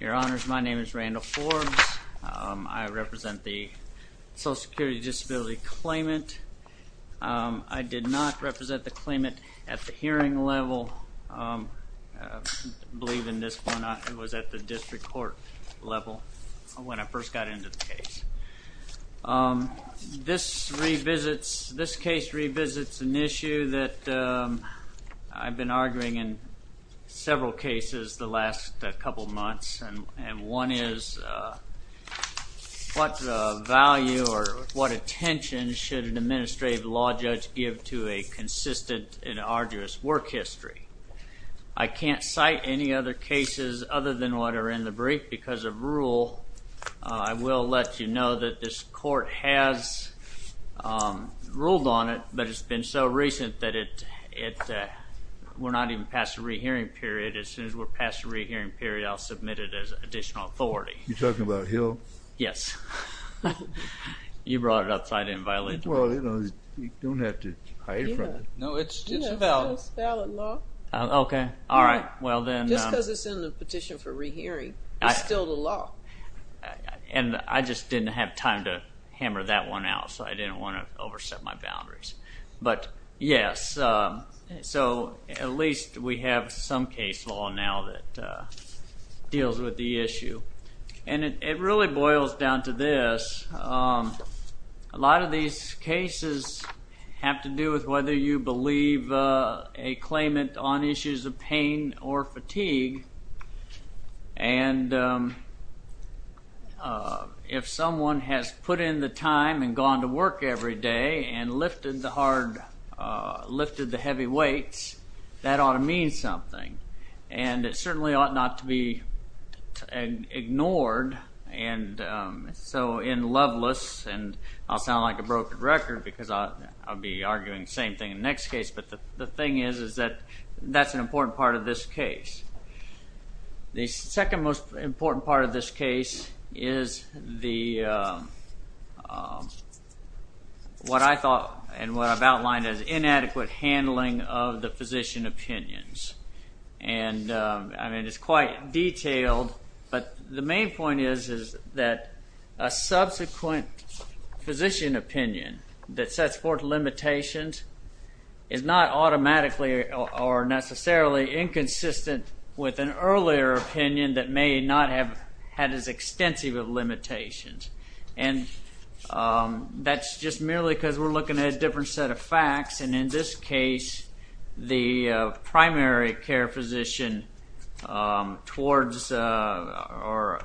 Your Honors, my name is Randall Forbes. I represent the Social Security Disability Claimant. I did not represent the claimant at the hearing level. I believe in this one, it was at the district court level when I first got into the case. This case revisits an issue that I've been arguing in several cases the last couple months, and one is what value or what attention should an administrative law judge give to a consistent and arduous work history. I can't cite any other cases other than what are in the brief because of rule. I will let you know that this court has ruled on it, but it's been so recent that we're not even past the rehearing period. As soon as we're past the rehearing period, I'll submit it as additional authority. You're talking about Hill? Yes. You brought it upside down. Well, you don't have to. No, it's a valid law. Okay. All right. Well, then. Just because it's in the petition for rehearing, it's still the law. And I just didn't have time to hammer that one out, so I didn't want to over set my case. So at least we have some case law now that deals with the issue. And it really boils down to this. A lot of these cases have to do with whether you believe a claimant on issues of pain or fatigue. And if someone has put in the lift of the heavy weights, that ought to mean something. And it certainly ought not to be ignored. And so in Loveless, and I'll sound like a broken record because I'll be arguing the same thing in the next case, but the thing is is that that's an important part of this case. The second most important part of this case is the, what I thought and what I've outlined as inadequate handling of the physician opinions. And I mean, it's quite detailed, but the main point is is that a subsequent physician opinion that sets forth limitations is not automatically or necessarily inconsistent with an earlier opinion that may not have had as extensive of limitations. And that's just merely because we're looking at a different set of facts. And in this case, the primary care physician towards or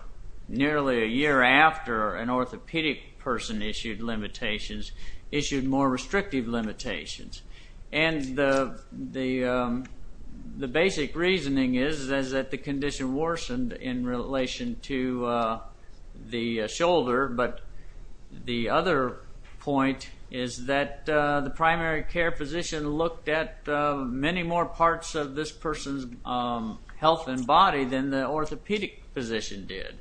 nearly a year after an orthopedic person issued limitations issued more restrictive limitations. And the basic reasoning is is that the condition worsened in relation to the shoulder, but the other point is that the primary care physician looked at many more parts of this person's health and body than the orthopedic physician did.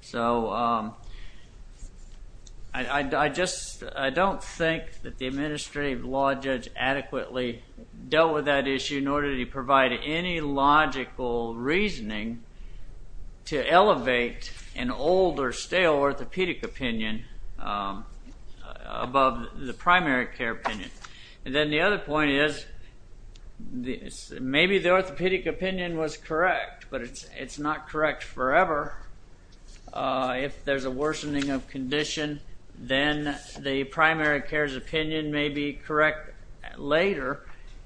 So I just don't think that the administrative law judge adequately dealt with that issue, nor did he provide any logical reasoning to elevate an old or stale orthopedic opinion above the primary care opinion. And then the other point is maybe the orthopedic opinion was correct, but it's not correct forever. If there's a worsening of condition, then the primary care's opinion may be correct later,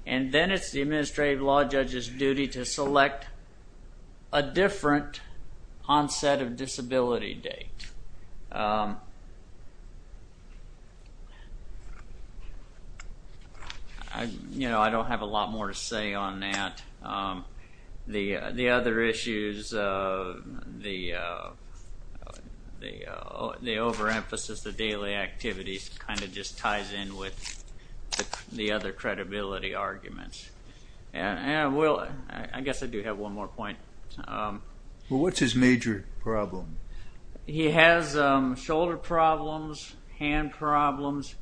and then it's the administrative law judge's duty to select a different onset of disability date. You know, I don't have a lot more to say on that. The other issues, the overemphasis of daily activities kind of ties in with the other credibility arguments. And I guess I do have one more point. Well, what's his major problem? He has shoulder problems, hand problems,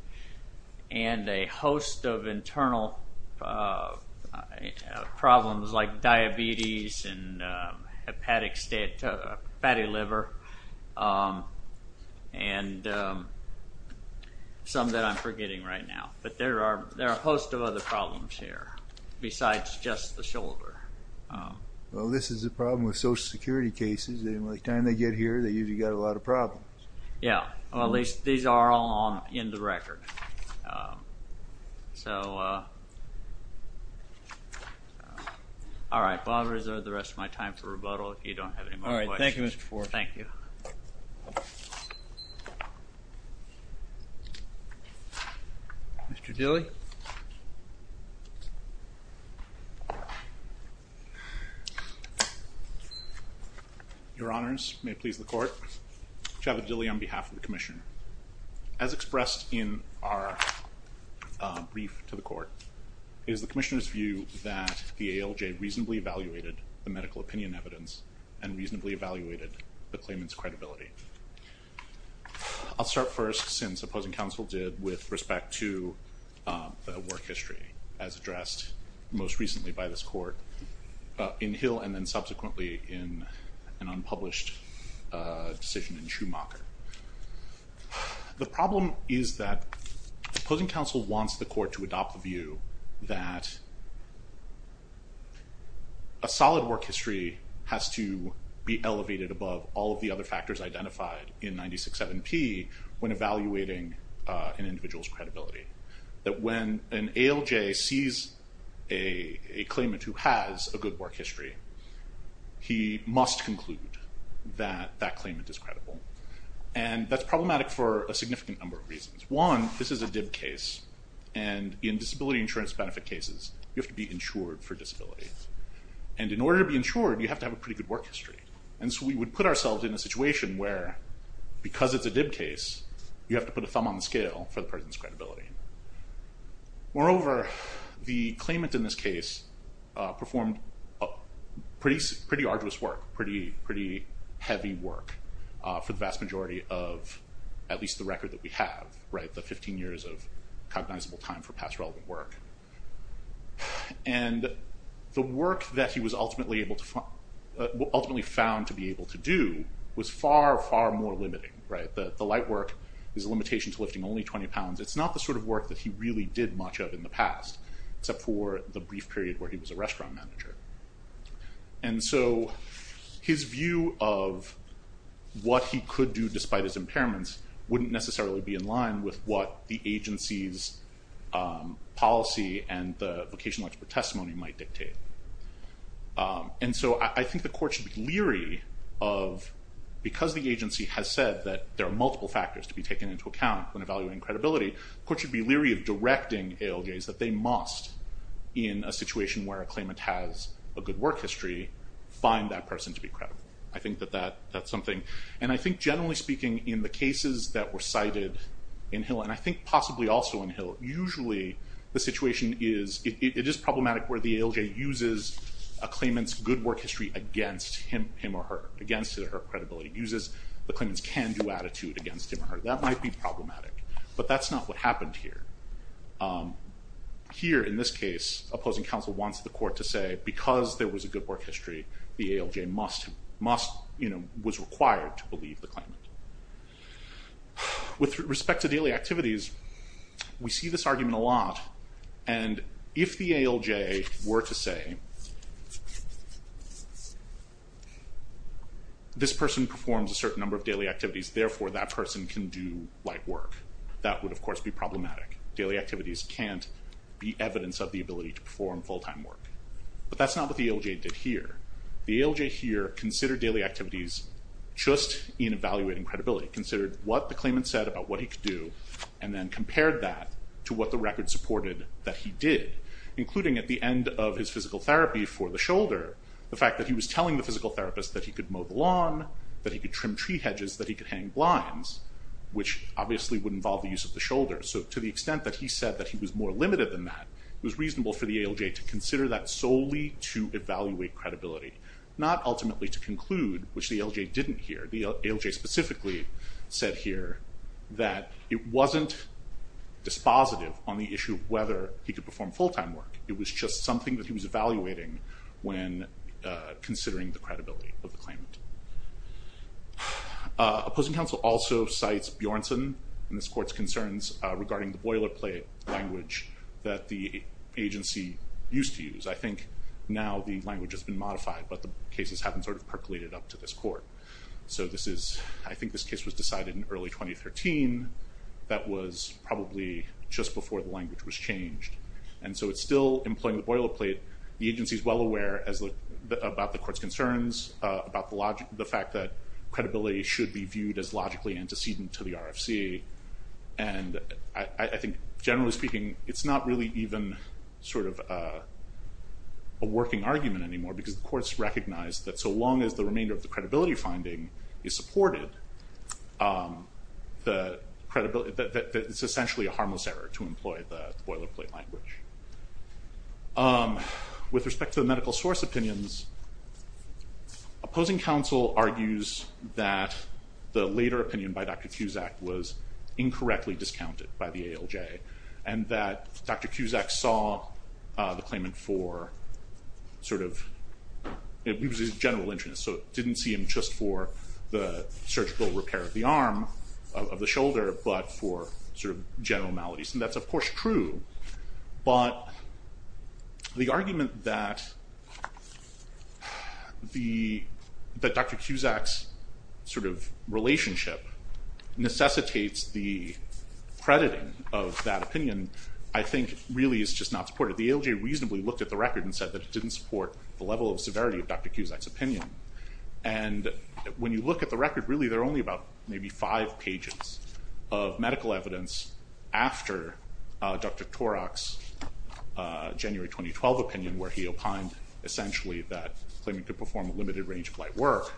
and a host of internal problems like diabetes and hepatic state, fatty fat, and some that I'm forgetting right now. But there are a host of other problems here besides just the shoulder. Well, this is a problem with Social Security cases. And by the time they get here, they usually got a lot of problems. Yeah. Well, these are all in the record. So, all right. Well, I'll reserve the rest of my time for rebuttal if you don't have any more questions. All right. Thank you, Mr. Ford. Thank you. Mr. Dilley? Your Honors, may it please the Court. Javid Dilley on behalf of the Commission. As expressed in our brief to the Court, it is the Commissioner's view that the ALJ reasonably evaluated the medical opinion evidence and reasonably evaluated the claimant's credibility. I'll start first since opposing counsel did with respect to the work history as addressed most recently by this Court in Hill and then subsequently in an unpublished decision in Schumacher. The problem is that opposing counsel wants the Court to adopt the view that a solid work history has to be elevated above all of the other factors identified in 96-7P when evaluating an individual's credibility. That when an ALJ sees a claimant who has a good work history, he must conclude that that claimant is credible. And that's problematic for a disability insurance benefit cases. You have to be insured for disability. And in order to be insured, you have to have a pretty good work history. And so we would put ourselves in a situation where, because it's a DIB case, you have to put a thumb on the scale for the person's credibility. Moreover, the claimant in this case performed pretty arduous work, pretty heavy work for the vast majority of at least the record that we have, right, the 15 years of recognizable time for past relevant work. And the work that he was ultimately found to be able to do was far, far more limiting, right. The light work is a limitation to lifting only 20 pounds. It's not the sort of work that he really did much of in the past, except for the brief period where he was a restaurant manager. And so his view of what he could do despite his impairments wouldn't necessarily be in line with what the agency's policy and the vocational expert testimony might dictate. And so I think the court should be leery of, because the agency has said that there are multiple factors to be taken into account when evaluating credibility, the court should be leery of directing ALJs that they must, in a situation where a claimant has a good work history, find that person to be credible. I think that that's something, and I think generally speaking in the cases that were cited in Hill, and I think possibly also in Hill, usually the situation is, it is problematic where the ALJ uses a claimant's good work history against him him or her, against her credibility, uses the claimant's can-do attitude against him or her. That might be problematic, but that's not what happened here. Here in this case, opposing counsel wants the court to say because there was a good work history, the ALJ must, you know, was required to believe the claimant. With respect to daily activities, we see this argument a lot, and if the ALJ were to say, this person performs a certain number of daily activities, therefore that person can do light work, that would of course be problematic. Daily activities can't be evidence of the ability to perform full-time work. But that's not what the ALJ did here. The ALJ here considered daily activities just in evaluating credibility, considered what the claimant said about what he could do, and then compared that to what the record supported that he did, including at the end of his physical therapy for the shoulder, the fact that he was telling the physical therapist that he could mow the lawn, that he could trim tree hedges, that he could hang blinds, which obviously would involve the use of the shoulder. So to the extent that he said that he was more limited than that, it was reasonable for the ALJ to consider that solely to evaluate credibility, not ultimately to conclude, which the ALJ didn't hear. The ALJ specifically said here that it wasn't dispositive on the issue of whether he could perform full-time work. It was just something that he was evaluating when considering the credibility of the claimant. Opposing counsel also cites Bjornsson in this court's concerns regarding the boilerplate language that the agency used to use. I think now the language has been modified, but the cases haven't sort of percolated up to this court. So this is, I think this case was decided in early 2013. That was probably just before the language was changed. And so it's still employing the boilerplate. The agency is well aware as the, about the court's concerns, about the logic, the fact that credibility should be viewed as logically antecedent to the RFC. And I think generally speaking, it's not really even sort of a working argument anymore because the court's recognized that so long as the remainder of the credibility finding is supported, the credibility, that it's essentially a harmless error to employ the boilerplate language. With respect to the medical source opinions, opposing counsel argues that the later opinion by Dr. Cusack was incorrectly discounted by the ALJ and that Dr. Cusack saw the claimant for sort of, it was his general interest, so didn't see him just for the surgical repair of the arm, of the shoulder, but for sort of general maladies. And that's of course true, but the argument that the, that Dr. Cusack's sort of relationship necessitates the crediting of that opinion, I think really is just not supported. The ALJ reasonably looked at the record and said that it didn't support the level of severity of Dr. Cusack's opinion. And when you look at the record, really they're only about maybe five pages of medical evidence after Dr. Torok's January 2012 opinion where he opined essentially that claiming to perform a limited range of light work,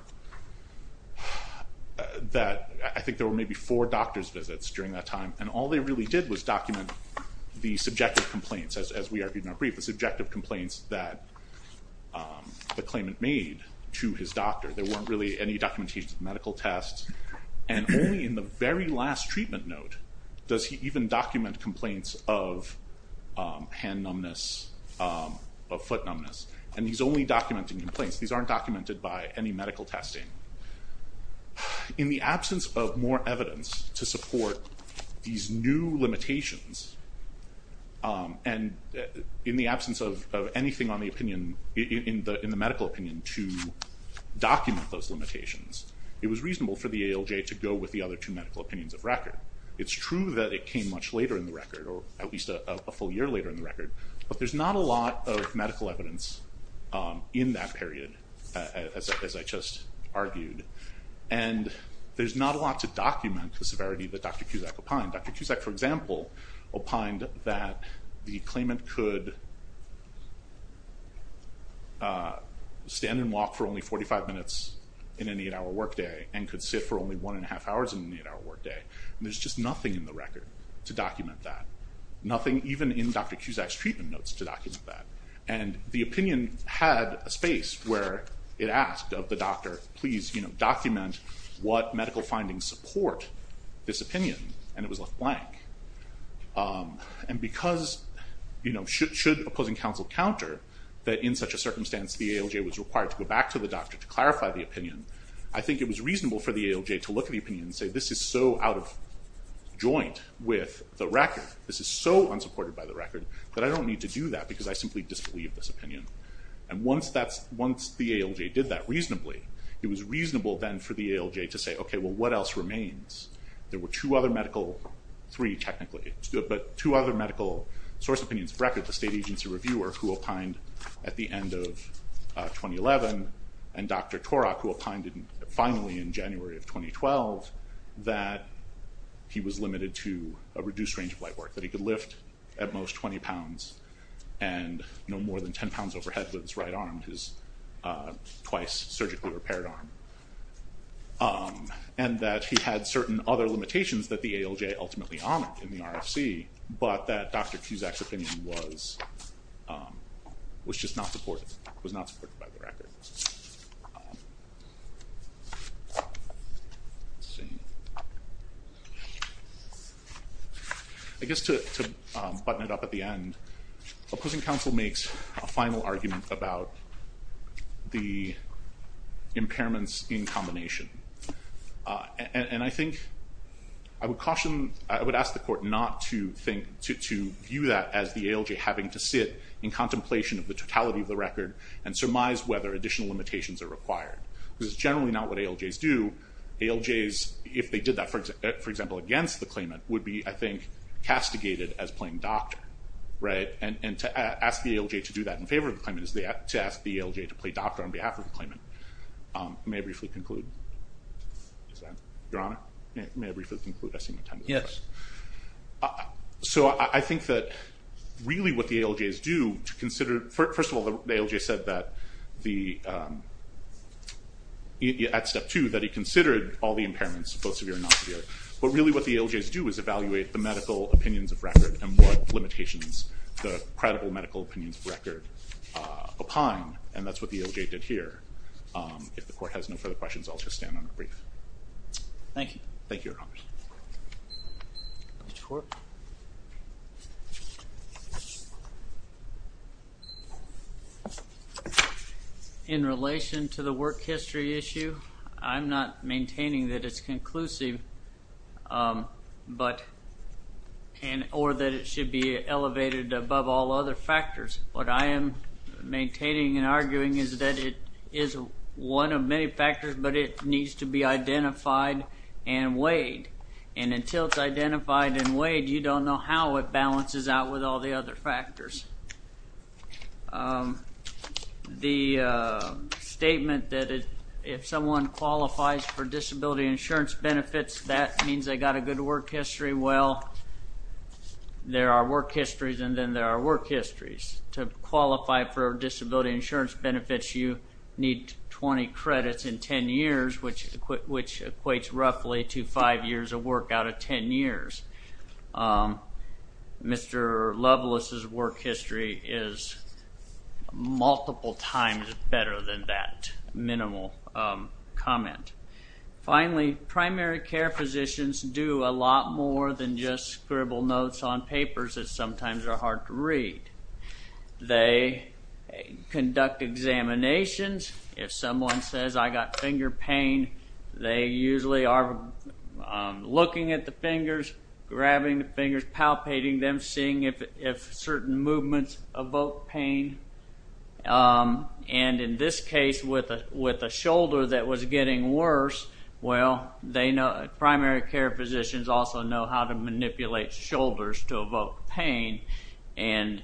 that I think there were maybe four doctor's visits during that time and all they really did was document the subjective complaints, as we argued in our brief, the subjective complaints that the claimant made to his doctor. There weren't really any documentation of medical tests and only in the very last of foot numbness. And he's only documenting complaints. These aren't documented by any medical testing. In the absence of more evidence to support these new limitations, and in the absence of anything on the opinion, in the medical opinion, to document those limitations, it was reasonable for the ALJ to go with the other two medical opinions of record. It's true that it came much later in the record, or at least a full year later in the record, but there's not a lot of medical evidence in that period, as I just argued, and there's not a lot to document the severity that Dr. Cusack opined. Dr. Cusack, for example, opined that the claimant could stand and walk for only 45 minutes in an eight-hour workday and could sit for only one and a half hours in an eight-hour workday. There's just nothing in the record to document that. Nothing even in Dr. Cusack's treatment notes to document that. And the opinion had a space where it asked of the doctor, please, you know, document what medical findings support this opinion, and it was left blank. And because, you know, should opposing counsel counter that in such a circumstance the ALJ was required to go back to the doctor to clarify the opinion, I think it was reasonable for the ALJ to look at the opinion and say, this is so out of joint with the record, this is so unsupported by the record, that I don't need to do that because I simply disbelieve this opinion. And once that's, once the ALJ did that reasonably, it was reasonable then for the ALJ to say, okay, well what else remains? There were two other medical, three technically, but two other medical source opinions of record. The state agency reviewer, who opined at the end of 2011, and Dr. Torok, who opined finally in January of 2012, that he was limited to a reduced range of light work, that he could lift at most 20 pounds and no more than 10 pounds overhead with his right arm, his twice surgically repaired arm. And that he had certain other limitations that the ALJ ultimately honored in the RFC, but that Dr. Cusack's opinion was, was just not supported, was not supported by the record. I guess to button it up at the end, opposing counsel makes a final argument about the impairments in combination. And I think, I would caution, I would ask the court not to think, to view that as the ALJ having to sit in contemplation of the totality of the record and surmise whether additional limitations are required. This is generally not what ALJs do. ALJs, if they did that, for example, against the claimant, would be, I think, castigated as playing doctor, right? And to ask the ALJ to do that in favor of the claimant is to ask the ALJ to play doctor on behalf of the claimant. May I briefly conclude? Your Honor? May I briefly conclude? Yes. So I think that really what the ALJs do to consider, first of all, the ALJ said that the, at step two, that he was not severe, but really what the ALJs do is evaluate the medical opinions of record and what limitations the credible medical opinions of record opine, and that's what the ALJ did here. If the court has no further questions, I'll just stand on a brief. Thank you. Thank you, Your Honor. In relation to the work history issue, I'm not maintaining that it's conclusive or that it should be elevated above all other factors. What I am maintaining and arguing is that it is one of many factors, but it needs to be identified and weighed, and until it's identified and weighed, you don't know how it balances out with all the other factors. The statement that if someone qualifies for disability insurance benefits, that means they got a good work history. Well, there are work histories, and then there are work histories. To qualify for disability insurance benefits, you need 20 credits in 10 years, which equates roughly to five years of work out of 10 years. Mr. Loveless's work history is multiple times better than that minimal comment. Finally, primary care physicians do a lot more than just scribble notes on papers that sometimes are hard to read. They conduct examinations. If someone says, I got finger pain, they usually are looking at the fingers, grabbing the fingers, palpating them, seeing if certain movements evoke pain, and in this case, with a shoulder that was getting worse, well, primary care physicians also know how to manipulate shoulders to evoke pain, and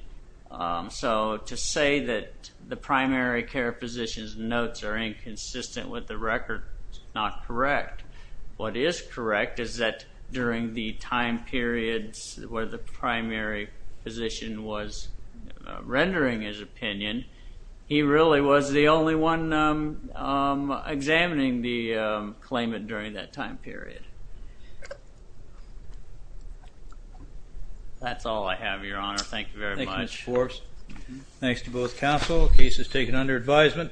so to say that the primary care physician's notes are inconsistent with the record is not consistent with the record at all. So, Mr. Loveless was one of the primary physician was rendering his opinion. He really was the only one examining the claimant during that time period. That's all I have, Your Honor. Thank you very much. Thank you, Mr. Forbes. Thanks to both counsel. Case is taken under advisement.